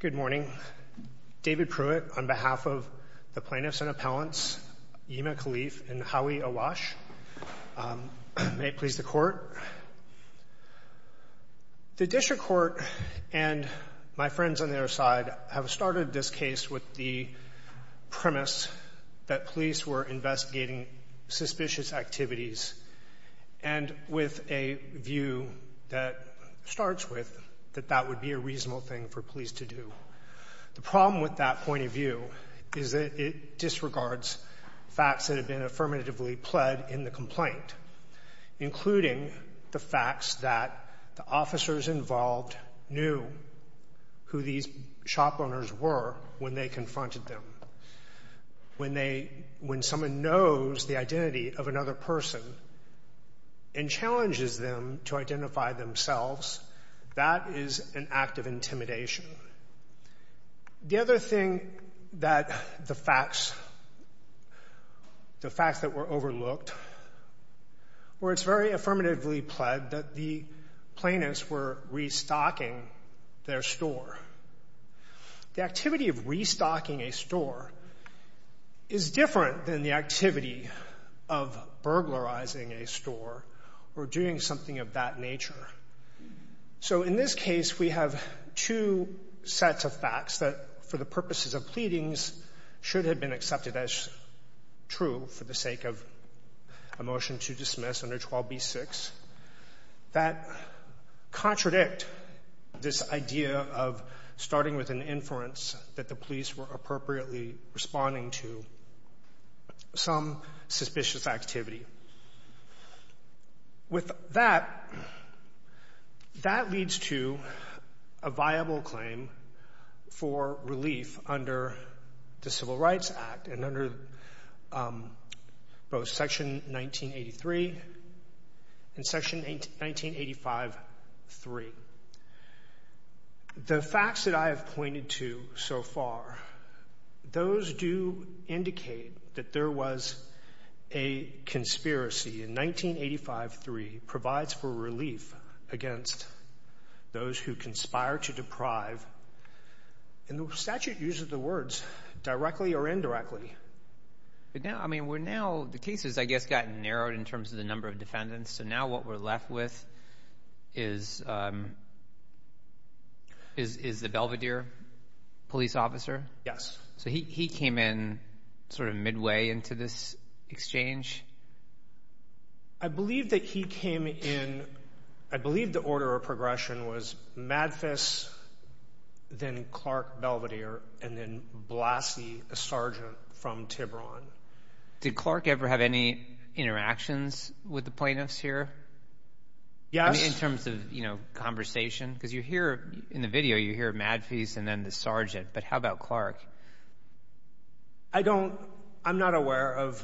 Good morning. David Pruitt on behalf of the plaintiffs and appellants, Yema Khalif and Howie Awash. May it please the court. The district court and my friends on their side have started this case with the premise that police were investigating suspicious activities and with a view that starts with that that would be a reasonable thing for police to do. The problem with that point of view is that it disregards facts that have been affirmatively pled in the complaint, including the facts that the officers involved knew who these shop owners were when they confronted them. When they, when someone knows the identity of another person and challenges them to identify themselves, that is an act of intimidation. The other thing that the facts, the facts that were overlooked, where it's very affirmatively pled that the plaintiffs were restocking their store. The activity of restocking a store is different than the activity of burglarizing a store or doing something of that nature. So in this case, we have two sets of facts that for the purposes of pleadings should have been accepted as true for the of a motion to dismiss under 12b-6 that contradict this idea of starting with an inference that the police were appropriately responding to some suspicious activity. With that, that leads to a both Section 1983 and Section 1985-3. The facts that I have pointed to so far, those do indicate that there was a conspiracy. And 1985-3 provides for relief against those who conspire to deprive, and the statute uses the words directly or indirectly. But now, I mean, we're now, the cases, I guess, got narrowed in terms of the number of defendants. So now what we're left with is, is the Belvedere police officer? Yes. So he came in sort of midway into this exchange? I believe that he came in, I believe the order of progression was Madfis, then Clark, Belvedere, and then Lassie, a sergeant from Tiburon. Did Clark ever have any interactions with the plaintiffs here? Yes. In terms of, you know, conversation? Because you hear in the video, you hear Madfis and then the sergeant, but how about Clark? I don't, I'm not aware of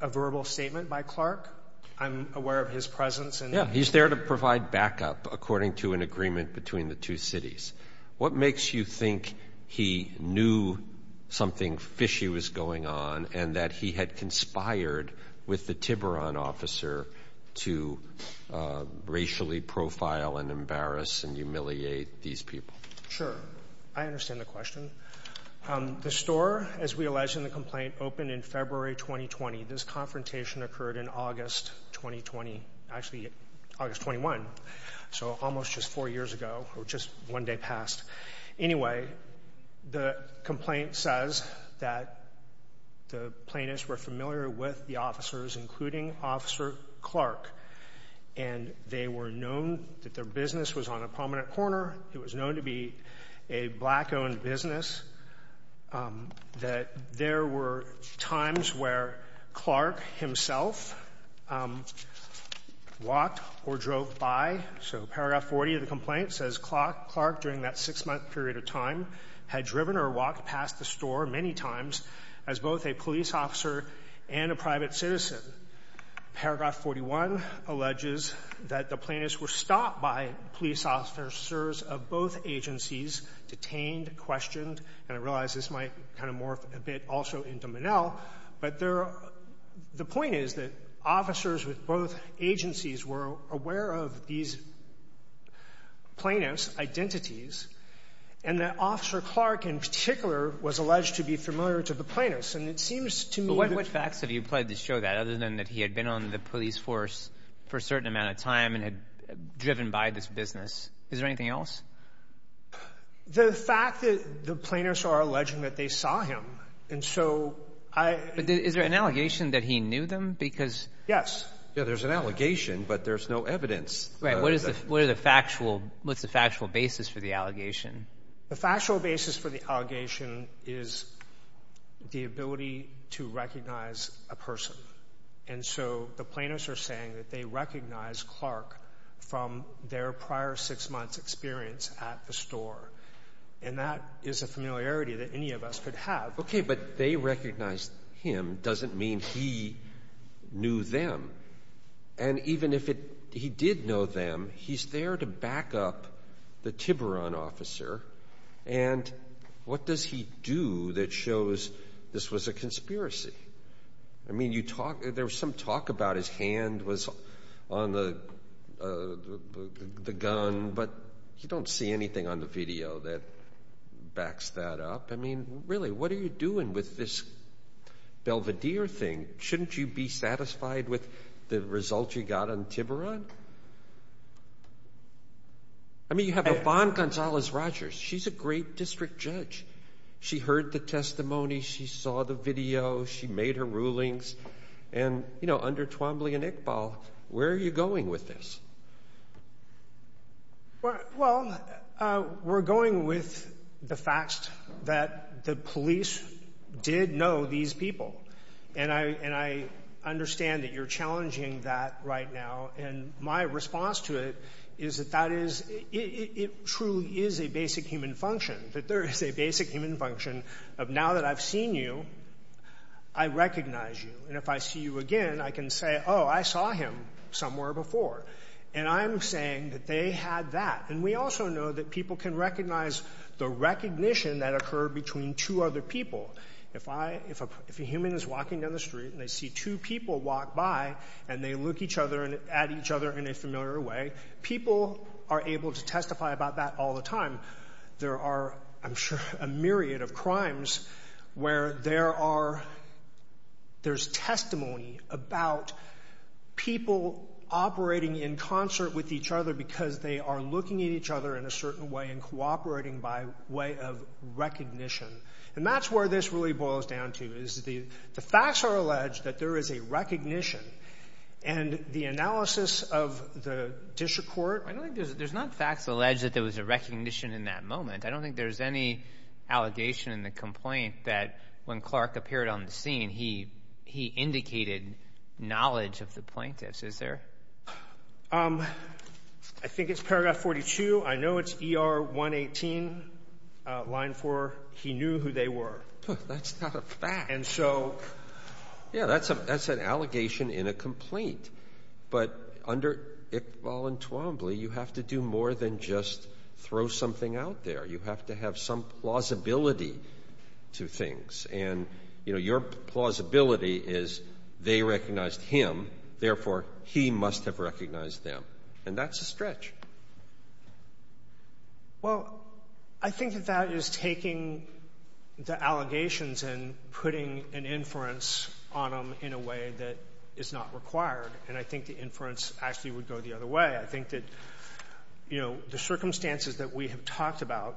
a verbal statement by Clark. I'm aware of his presence. Yeah, he's there to provide backup, according to an agreement between the two cities. What makes you think he knew something fishy was going on and that he had conspired with the Tiburon officer to racially profile and embarrass and humiliate these people? Sure. I understand the question. The store, as we alleged in the complaint, opened in February 2020. This August 21. So almost just four years ago, or just one day past. Anyway, the complaint says that the plaintiffs were familiar with the officers, including Officer Clark, and they were known that their business was on a prominent corner. It was known to be a black-owned business, that there were times where Clark himself walked or drove by. So paragraph 40 of the complaint says Clark, during that six-month period of time, had driven or walked past the store many times as both a police officer and a private citizen. Paragraph 41 alleges that the plaintiffs were stopped by police officers of both agencies, detained, questioned. And I realize this might kind of morph a bit also into Monell, but the point is that officers with both agencies were aware of these plaintiffs' identities, and that Officer Clark, in particular, was alleged to be familiar to the plaintiffs. And it seems to me that... But what facts have you applied to show that, other than that he had been on the police force for a certain amount of time and had driven by this business? Is there anything else? The fact that the plaintiffs are alleging that they saw him, and so I... But is there an allegation that he knew them? Because... Yeah, there's an allegation, but there's no evidence. Right. What is the factual basis for the allegation? The factual basis for the allegation is the ability to recognize a person. And so the plaintiffs are saying that they recognize Clark from their prior six months' experience at the store. And that is a familiarity that any of us could have. Okay, but they recognize him doesn't mean he knew them. And even if he did know them, he's there to back up the Tiburon officer. And what does he do that shows this was a conspiracy? I mean, there was some talk about his hand was on the gun, but you don't see anything on the video that backs that up. I mean, really, what are you doing with this Belvedere thing? Shouldn't you be satisfied with the results you got on Tiburon? I mean, you have Yvonne Gonzalez Rogers. She's a great district judge. She heard the testimony. She saw the video. She made her rulings. And, you know, under Twombly and Iqbal, where are you going with this? Well, we're going with the fact that the police did know these people. And I understand that you're challenging that right now. And my response to it is that it truly is a basic human function, that there is a basic human function of now that I've seen you, I recognize you. And if I see you again, I can say, oh, I saw him somewhere before. And I'm saying that they had that. And we also know that people can recognize the recognition that occurred between two other people. If a human is walking down the street and they see two people walk by and they look at each other in a familiar way, people are able to testify about that all the time. There are, I'm sure, a myriad of crimes where there's testimony about people operating in concert with each other because they are looking at each other in a certain way and cooperating by way of recognition. And that's where this really boils down to, is the facts are alleged that there is a recognition and the analysis of the district court. I don't think there's not facts alleged that there was a recognition in that moment. I don't think there's any allegation in the complaint that when Clark appeared on the scene, he indicated knowledge of the plaintiffs. Is there? I think it's paragraph 42. I know it's ER 118, line four. He knew who they were. That's not a fact. And so, yeah, that's a that's an allegation in a complaint. But under Iqbal and Twombly, you have to do more than just throw something out there. You have to have some plausibility to things. And, you know, your plausibility is they recognized him. Therefore, he must have recognized them. And that's a stretch. Well, I think that that is taking the allegations and putting an inference on them in a way that is not required. And I think the inference actually would go the other way. I think that, you know, the circumstances that we have talked about,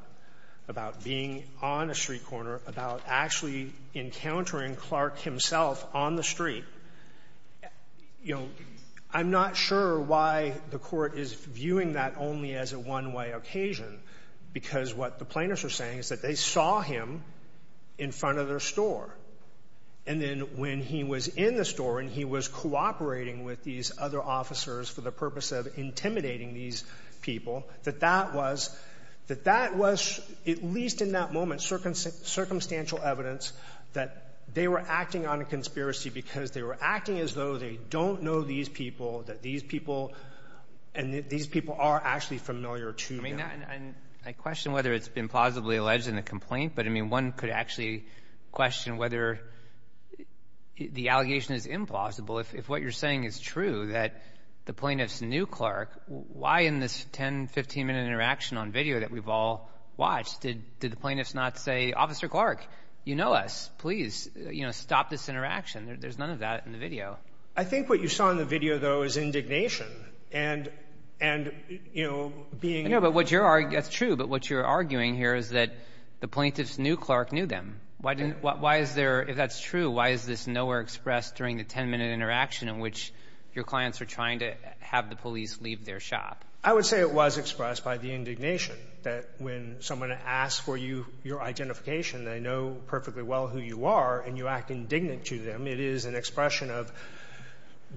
about being on a street corner, about actually encountering Clark himself on the street. You know, I'm not sure why the court is viewing that only as a one way occasion, because what the plaintiffs are saying is that they saw him in front of their store. And then when he was in the store and he was cooperating with these other officers for the purpose of intimidating these people, that that was that that was, at least in that moment, circumstantial evidence that they were acting on a conspiracy because they were acting as though they don't know these people, that these people and these people are actually familiar to them. And I question whether it's been plausibly alleged in the complaint. But, I mean, one could actually question whether the allegation is implausible. If what you're saying is true, that the plaintiffs knew Clark, why in this 10, 15 minute interaction on video that we've all watched, did the plaintiffs not say, Officer Clark, you know us. Please, you know, stop this interaction. There's none of that in the video. I think what you saw in the video, though, is indignation and and, you know, being. But what you're arguing, that's true. But what you're arguing here is that the plaintiffs knew Clark knew them. Why didn't why is there? If that's true, why is this nowhere expressed during the 10 minute interaction in which your clients are trying to have the police leave their shop? I would say it was expressed by the indignation that when someone asks for you, your identification, they know perfectly well who you are and you act indignant to them. It is an expression of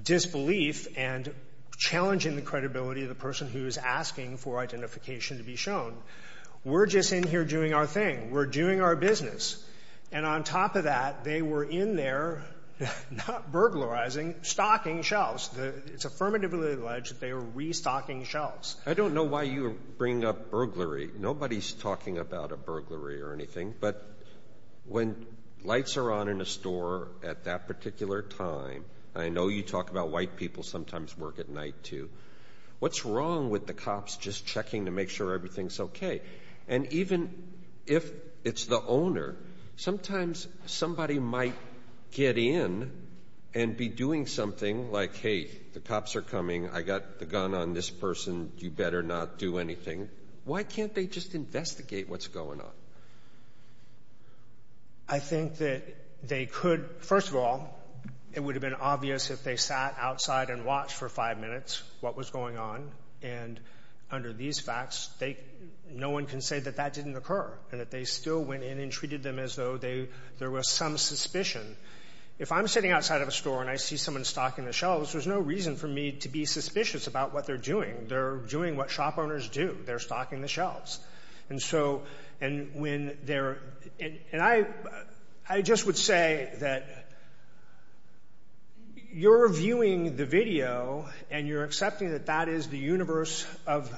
disbelief and challenging the credibility of the person who is asking for identification to be shown. We're just in here doing our thing. We're doing our business. And on top of that, they were in there, not burglarizing, stocking shelves. It's affirmatively alleged that they were restocking shelves. I don't know why you bring up burglary. Nobody's talking about a burglary or anything. But when lights are on in a store at that particular time, I know you talk about white people sometimes work at night, too. What's wrong with the cops just checking to make sure everything's OK? And even if it's the owner, sometimes somebody might get in and be doing something like, hey, the cops are coming. I got the gun on this person. You better not do anything. Why can't they just investigate what's going on? I think that they could, first of all, it would have been obvious if they sat outside and watched for five minutes what was going on. And under these facts, no one can say that that didn't occur and that they still went in and treated them as though there was some suspicion. If I'm sitting outside of a store and I see someone stocking the shelves, there's no reason for me to be suspicious about what they're doing. They're doing what shop owners do. They're stocking the shelves. And so and when they're and I, I just would say that you're viewing the video and you're accepting that that is the universe of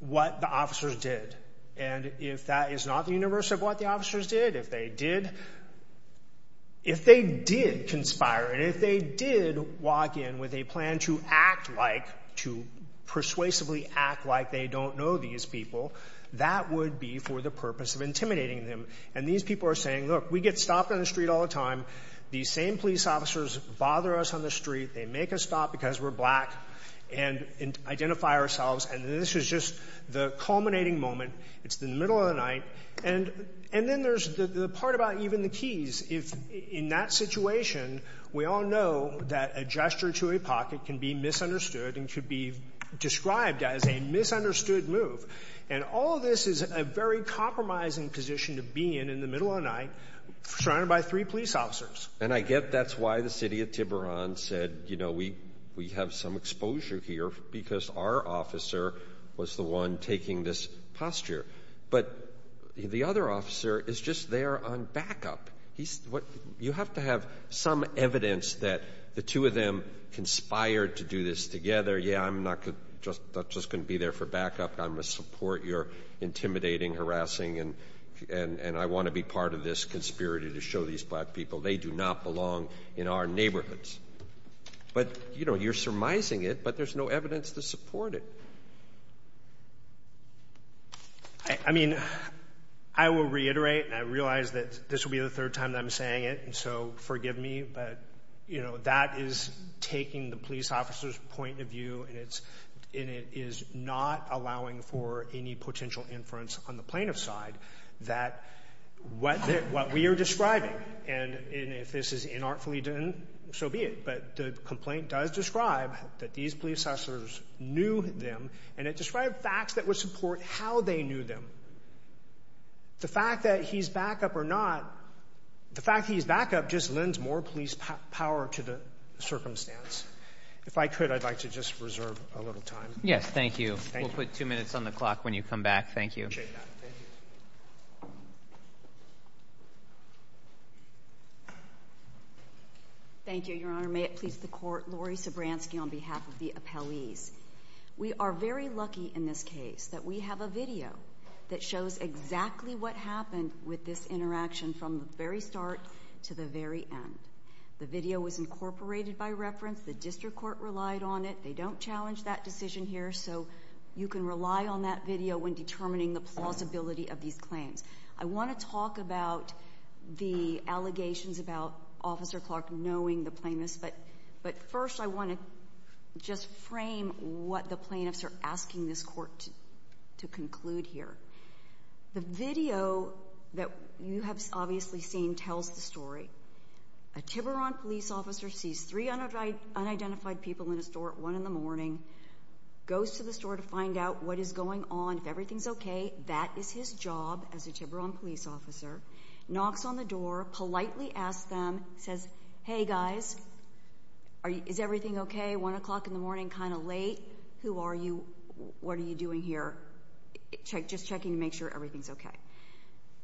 what the officers did. And if that is not the universe of what the officers did, if they did, if they did conspire and if they did walk in with a plan to act like to persuasively act like they don't know these people. That would be for the purpose of intimidating them. And these people are saying, look, we get stopped on the street all the time. These same police officers bother us on the street. They make us stop because we're black and identify ourselves. And this is just the culminating moment. It's the middle of the night. And and then there's the part about even the keys. If in that situation, we all know that a gesture to a pocket can be misunderstood and should be described as a misunderstood move. And all of this is a very compromising position to be in in the middle of night, surrounded by three police officers. And I get that's why the city of Tiburon said, you know, we we have some exposure here because our officer was the one taking this posture. But the other officer is just there on backup. He's what you have to have some evidence that the two of them conspired to do this together. Yeah, I'm not just not just going to be there for backup. I'm a support. You're intimidating, harassing. And and I want to be part of this conspiracy to show these black people they do not belong in our neighborhoods. But, you know, you're surmising it, but there's no evidence to support it. I mean, I will reiterate and I realize that this will be the third time that I'm saying it. And so forgive me. But, you know, that is taking the police officers point of view. And it's it is not allowing for any potential inference on the plaintiff's side that what what we are describing and if this is inartfully done, so be it. But the complaint does describe that these police officers knew them and it described facts that would support how they knew them. The fact that he's back up or not, the fact he's back up just lends more police power to the circumstance, if I could, I'd like to just reserve a little time. Yes, thank you. We'll put two minutes on the clock when you come back. Thank you. Thank you, Your Honor. May it please the court. Laurie Sobranski on behalf of the appellees. We are very lucky in this case that we have a video that shows exactly what happened with this interaction from the very start to the very end. The video was incorporated by reference. The district court relied on it. They don't challenge that decision here. So you can rely on that video when determining the plausibility of these claims. I want to talk about the allegations about Officer Clark knowing the plaintiffs. But first, I want to just frame what the plaintiffs are asking this court to conclude here. The video that you have obviously seen tells the story. A Tiburon police officer sees three unidentified people in a store at one in the morning, goes to the store to find out what is going on, if everything's okay. That is his job as a Tiburon police officer. Knocks on the door, politely asks them, says, hey guys, is everything okay? One o'clock in the morning, kind of late. Who are you? What are you doing here? Just checking to make sure everything's okay.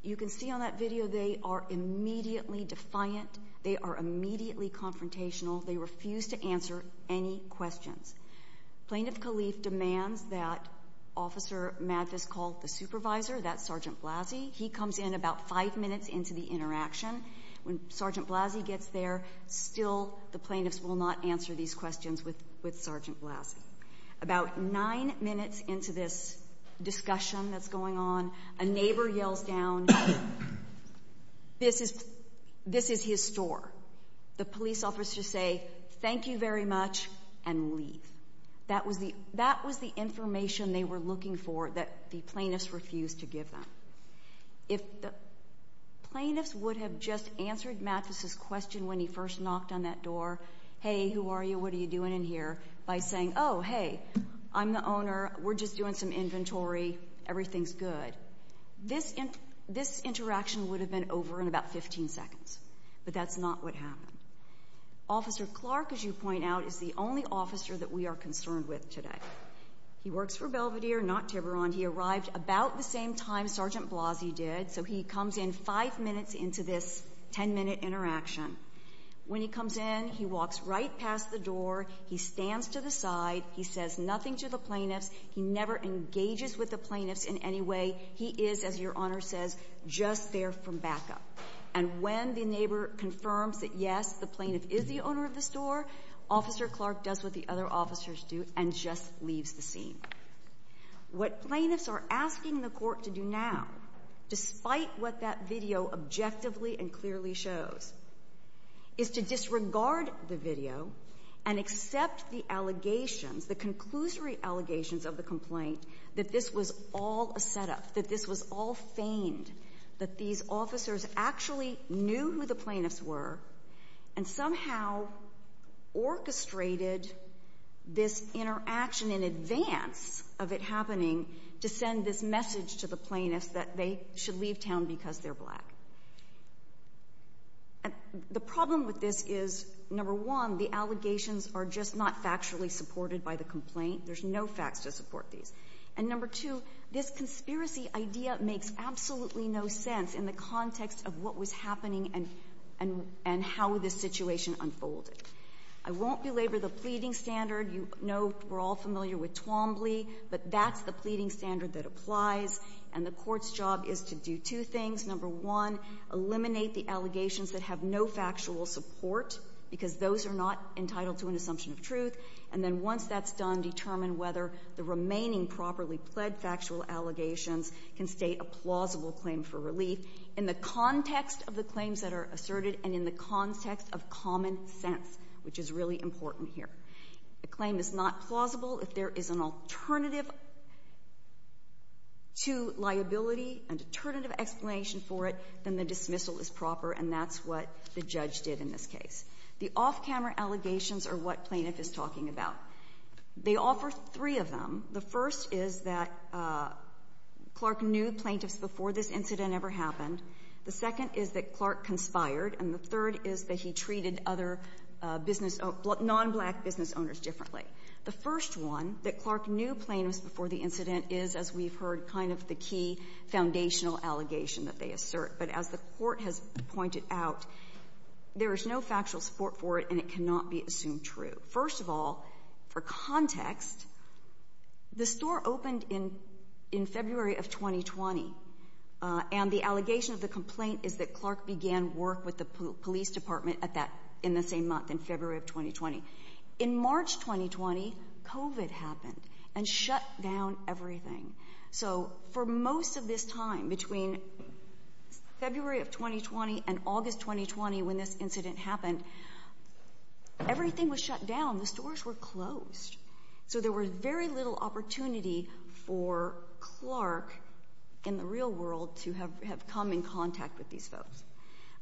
You can see on that video they are immediately defiant. They are immediately confrontational. They refuse to answer any questions. Plaintiff Kalief demands that Officer Mathis call the supervisor, that's Sergeant Blasey. He comes in about five minutes into the interaction. When Sergeant Blasey gets there, still the plaintiffs will not answer these questions with Sergeant Blasey. About nine minutes into this discussion that's going on, a neighbor yells down, this is his store. The police officer say, thank you very much, and leave. That was the information they were looking for that the plaintiffs refused to give them. If the plaintiffs would have just answered Mathis' question when he first knocked on that door, hey, who are you? What are you doing in here? By saying, oh, hey, I'm the owner. We're just doing some inventory. Everything's good. This interaction would have been over in about 15 seconds, but that's not what happened. Officer Clark, as you point out, is the only officer that we are concerned with today. He works for Belvedere, not Tiburon. He arrived about the same time Sergeant Blasey did, so he comes in five minutes into this ten minute interaction. When he comes in, he walks right past the door. He stands to the side. He says nothing to the plaintiffs. He never engages with the plaintiffs in any way. He is, as your honor says, just there for backup. And when the neighbor confirms that, yes, the plaintiff is the owner of this door, Officer Clark does what the other officers do and just leaves the scene. What plaintiffs are asking the court to do now, despite what that video objectively and clearly shows, is to disregard the video and accept the allegations, the conclusory allegations of the complaint, that this was all a setup. That this was all feigned. That these officers actually knew who the plaintiffs were and somehow orchestrated this interaction in advance of it happening to send this message to the plaintiffs that they should leave town because they're black. The problem with this is, number one, the allegations are just not factually supported by the complaint. There's no facts to support these. And number two, this conspiracy idea makes absolutely no sense in the context of what was happening and how this situation unfolded. I won't belabor the pleading standard. You know, we're all familiar with Twombly, but that's the pleading standard that applies. And the court's job is to do two things. Number one, eliminate the allegations that have no factual support because those are not entitled to an assumption of truth. And then once that's done, determine whether the remaining properly pled factual allegations can state a plausible claim for relief in the context of the claims that are asserted and in the context of common sense, which is really important here. The claim is not plausible if there is an alternative to liability and alternative explanation for it, then the dismissal is proper and that's what the judge did in this case. The off-camera allegations are what plaintiff is talking about. They offer three of them. The first is that Clark knew plaintiffs before this incident ever happened. The second is that Clark conspired, and the third is that he treated other non-black business owners differently. The first one, that Clark knew plaintiffs before the incident is, as we've heard, kind of the key foundational allegation that they assert. But as the court has pointed out, there is no factual support for it and it cannot be assumed true. First of all, for context, the store opened in February of 2020. And the allegation of the complaint is that Clark began work with the police department in the same month, in February of 2020. In March 2020, COVID happened and shut down everything. So for most of this time, between February of 2020 and August 2020 when this incident happened, everything was shut down. The stores were closed. So there were very little opportunity for Clark in the real world to have come in contact with these folks.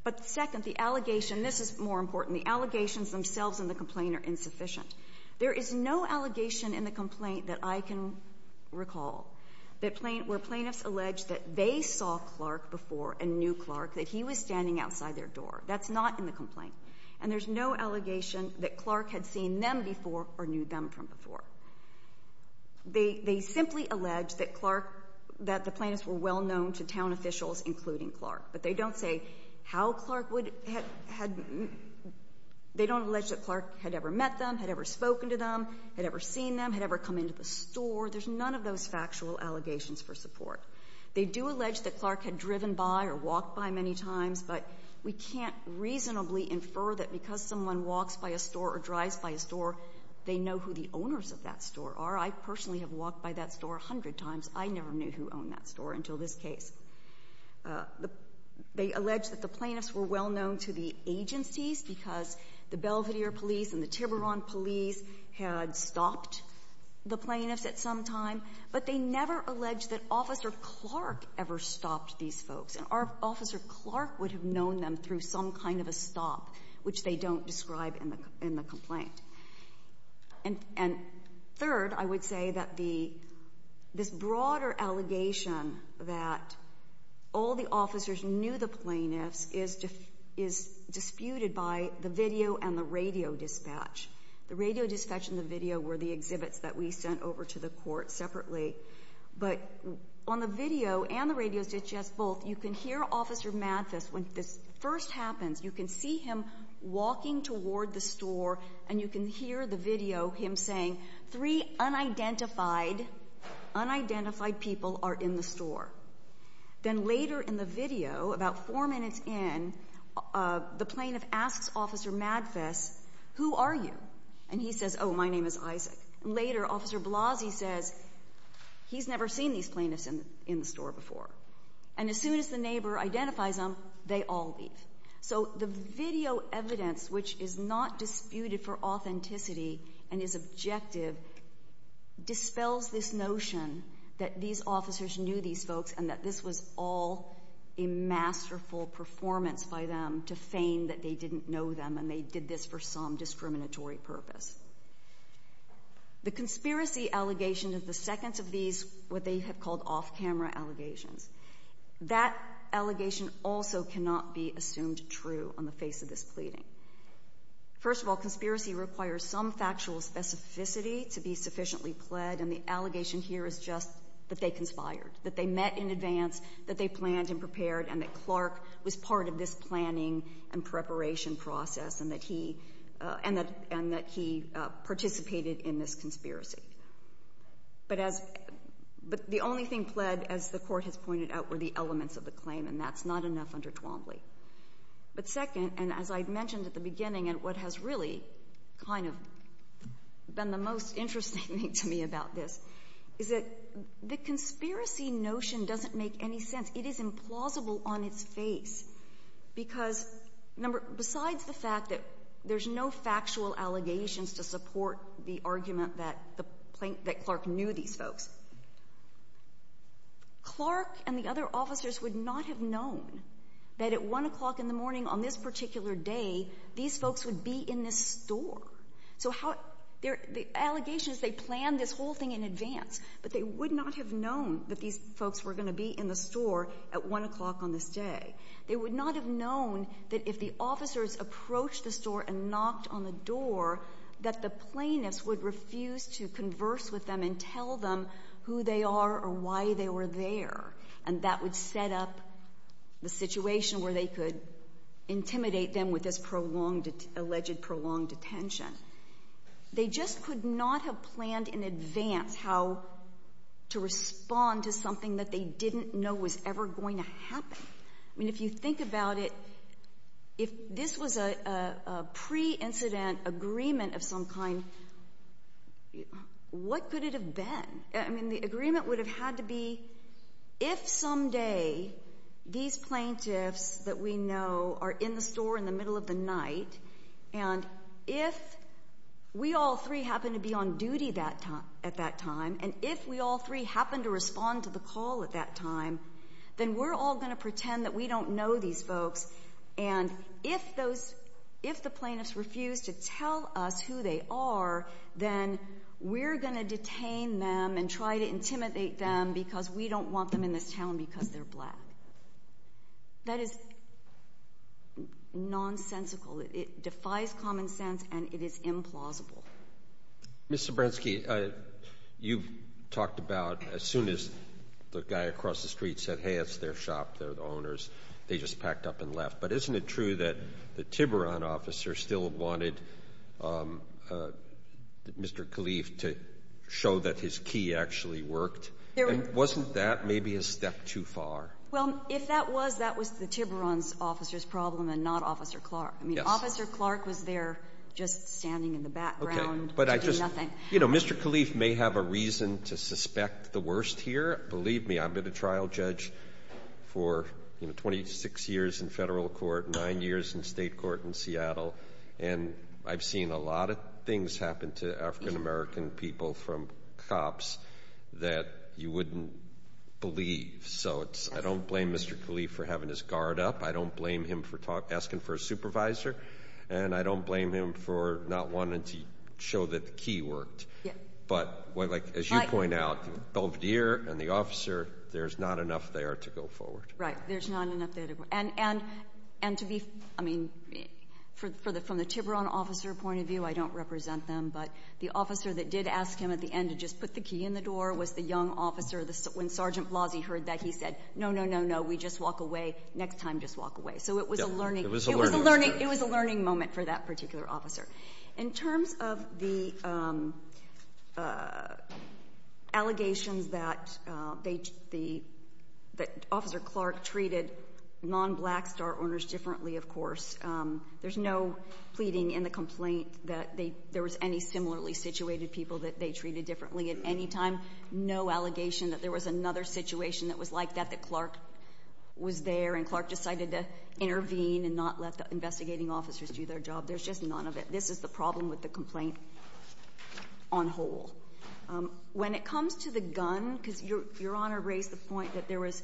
But second, the allegation, this is more important, the allegations themselves in the complaint are insufficient. There is no allegation in the complaint that I can recall where plaintiffs alleged that they saw Clark before and knew Clark, that he was standing outside their door. That's not in the complaint. And there's no allegation that Clark had seen them before or knew them from before. They simply allege that Clark, that the plaintiffs were well known to town officials, including Clark. But they don't say how Clark would, they don't allege that Clark had ever met them, had ever spoken to them, had ever seen them, had ever come into the store. There's none of those factual allegations for support. They do allege that Clark had driven by or walked by many times, but we can't reasonably infer that because someone walks by a store or drives by a store, they know who the owners of that store are. I personally have walked by that store a hundred times. I never knew who owned that store until this case. They allege that the plaintiffs were well known to the agencies because the Belvedere Police and the Tiburon Police had stopped the plaintiffs at some time. But they never allege that Officer Clark ever stopped these folks. And our Officer Clark would have known them through some kind of a stop, which they don't describe in the complaint. And third, I would say that this broader allegation that all the officers knew the plaintiffs is disputed by the video and the radio dispatch. The radio dispatch and the video were the exhibits that we sent over to the court separately. But on the video and the radio, it's just both. You can hear Officer Mathis, when this first happens, you can see him walking toward the store and you can hear the video, him saying, three unidentified people are in the store. Then later in the video, about four minutes in, the plaintiff asks Officer Mathis, who are you? And he says, my name is Isaac. Later, Officer Blasey says, he's never seen these plaintiffs in the store before. And as soon as the neighbor identifies them, they all leave. So the video evidence, which is not disputed for authenticity and is objective, dispels this notion that these officers knew these folks and that this was all a masterful performance by them to feign that they didn't know them. And they did this for some discriminatory purpose. The conspiracy allegation of the seconds of these, what they have called off-camera allegations. That allegation also cannot be assumed true on the face of this pleading. First of all, conspiracy requires some factual specificity to be sufficiently pled. And the allegation here is just that they conspired, that they met in advance, that they planned and prepared, and that Clark was part of this planning and preparation process. And that he participated in this conspiracy. But the only thing pled, as the court has pointed out, were the elements of the claim, and that's not enough under Twombly. But second, and as I mentioned at the beginning, and what has really kind of been the most interesting thing to me about this, is that the conspiracy notion doesn't make any sense. It is implausible on its face. Because, besides the fact that there's no factual allegations to support the argument that Clark knew these folks, Clark and the other officers would not have known that at one o'clock in the morning on this particular day, these folks would be in this store. So the allegations, they planned this whole thing in advance, but they would not have known that these folks were going to be in the store at one o'clock on this day. They would not have known that if the officers approached the store and knocked on the door, that the plaintiffs would refuse to converse with them and tell them who they are or why they were there. And that would set up the situation where they could intimidate them with this alleged prolonged detention. They just could not have planned in advance how to respond to something that they didn't know was ever going to happen. I mean, if you think about it, if this was a pre-incident agreement of some kind, what could it have been? I mean, the agreement would have had to be, if someday these plaintiffs that we know are in the store in the middle of the night. And if we all three happen to be on duty at that time, and if we all three happen to respond to the call at that time, then we're all going to pretend that we don't know these folks. And if the plaintiffs refuse to tell us who they are, then we're going to detain them and try to intimidate them because we don't want them in this town because they're black. That is nonsensical, it defies common sense and it is implausible. Mr. Bransky, you've talked about as soon as the guy across the street said, hey, it's their shop, they're the owners. They just packed up and left. But isn't it true that the Tiburon officer still wanted Mr. Kalief to show that his key actually worked? Wasn't that maybe a step too far? Well, if that was, that was the Tiburon's officer's problem and not Officer Clark. I mean, Officer Clark was there just standing in the background doing nothing. You know, Mr. Kalief may have a reason to suspect the worst here. Believe me, I've been a trial judge for 26 years in federal court, nine years in state court in Seattle. And I've seen a lot of things happen to African American people from cops that you wouldn't believe. So I don't blame Mr. Kalief for having his guard up. I don't blame him for asking for a supervisor. And I don't blame him for not wanting to show that the key worked. But as you point out, Belvedere and the officer, there's not enough there to go forward. Right, there's not enough there to go. And to be, I mean, from the Tiburon officer point of view, I don't represent them. But the officer that did ask him at the end to just put the key in the door was the young officer. When Sergeant Blasey heard that, he said, no, no, no, no, we just walk away. Next time, just walk away. So it was a learning moment for that particular officer. In terms of the allegations that Officer Clark treated non-Blackstar owners differently, of course, there's no pleading in the complaint that there was any similarly situated people that they treated differently at any time. No allegation that there was another situation that was like that, that Clark was there and Clark decided to intervene and not let the investigating officers do their job. There's just none of it. This is the problem with the complaint on whole. When it comes to the gun, because Your Honor raised the point that there was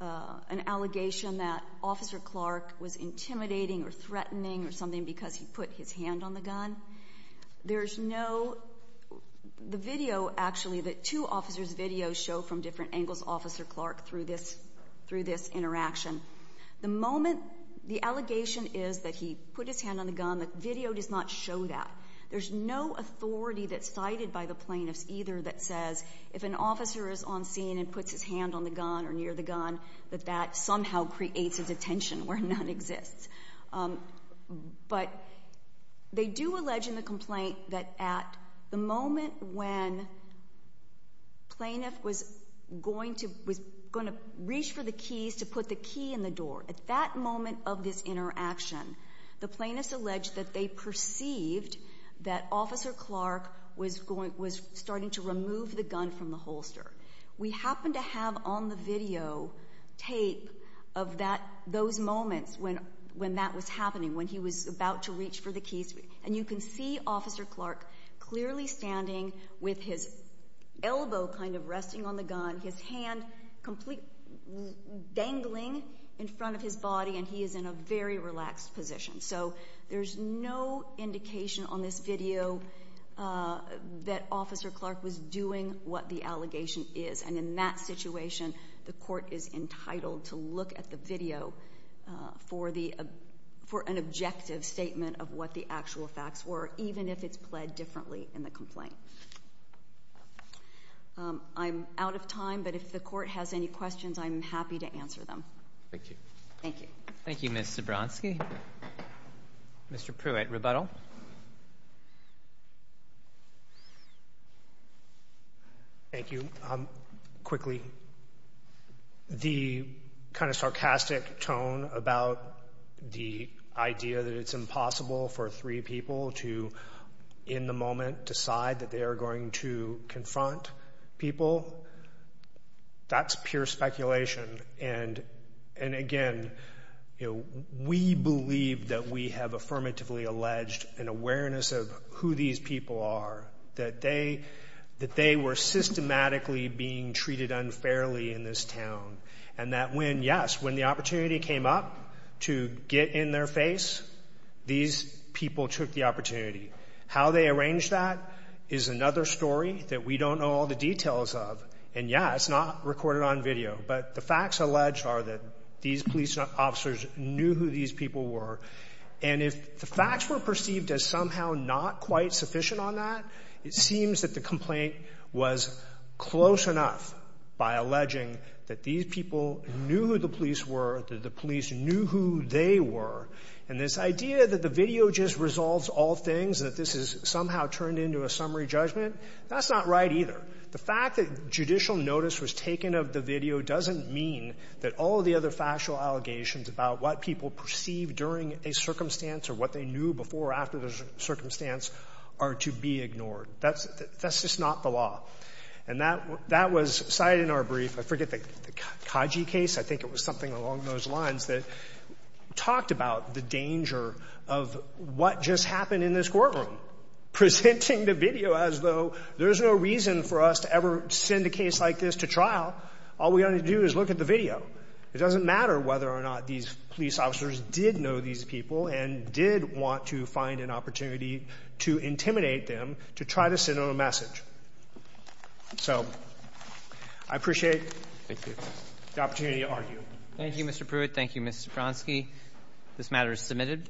an allegation that Officer Clark was intimidating or threatening or something because he put his hand on the gun. There's no, the video actually, the two officers' videos show from different angles Officer Clark through this interaction. The moment the allegation is that he put his hand on the gun, the video does not show that. There's no authority that's cited by the plaintiffs either that says, if an officer is on scene and puts his hand on the gun or near the gun, that that somehow creates a detention where none exists. But they do allege in the complaint that at the moment when plaintiff was going to reach for the keys to put the key in the door. At that moment of this interaction, the plaintiffs allege that they perceived that Officer Clark was starting to remove the gun from the holster. We happen to have on the video tape of that, those moments when that was happening, when he was about to reach for the keys. And you can see Officer Clark clearly standing with his elbow kind of resting on the gun, his hand completely dangling in front of his body, and he is in a very relaxed position. So there's no indication on this video that Officer Clark was doing what the allegation is. And in that situation, the court is entitled to look at the video for an objective statement of what the actual facts were, even if it's played differently in the complaint. I'm out of time, but if the court has any questions, I'm happy to answer them. Thank you. Thank you. Thank you, Ms. Zebronski. Mr. Pruitt, rebuttal? Thank you. Quickly, the kind of sarcastic tone about the idea that it's impossible for three people to, in the moment, decide that they are going to confront people, that's pure speculation. And again, we believe that we have affirmatively alleged an awareness of who these people are, that they were systematically being treated unfairly in this town, and that when, yes, when the opportunity came up to get in their face, these people took the opportunity. How they arranged that is another story that we don't know all the details of. And yeah, it's not recorded on video, but the facts alleged are that these police officers knew who these people were. And if the facts were perceived as somehow not quite sufficient on that, it seems that the complaint was close enough by alleging that these people knew who the police were, that the police knew who they were. And this idea that the video just resolves all things, that this is somehow turned into a summary judgment, that's not right either. The fact that judicial notice was taken of the video doesn't mean that all of the factual allegations about what people perceive during a circumstance or what they knew before or after the circumstance are to be ignored. That's just not the law. And that was cited in our brief, I forget the Kaji case, I think it was something along those lines that talked about the danger of what just happened in this courtroom. Presenting the video as though there's no reason for us to ever send a case like this to trial. All we gotta do is look at the video. It doesn't matter whether or not these police officers did know these people and did want to find an opportunity to intimidate them to try to send them a message. So I appreciate the opportunity to argue. Thank you, Mr. Pruitt. Thank you, Mr. Bronski. This matter is submitted.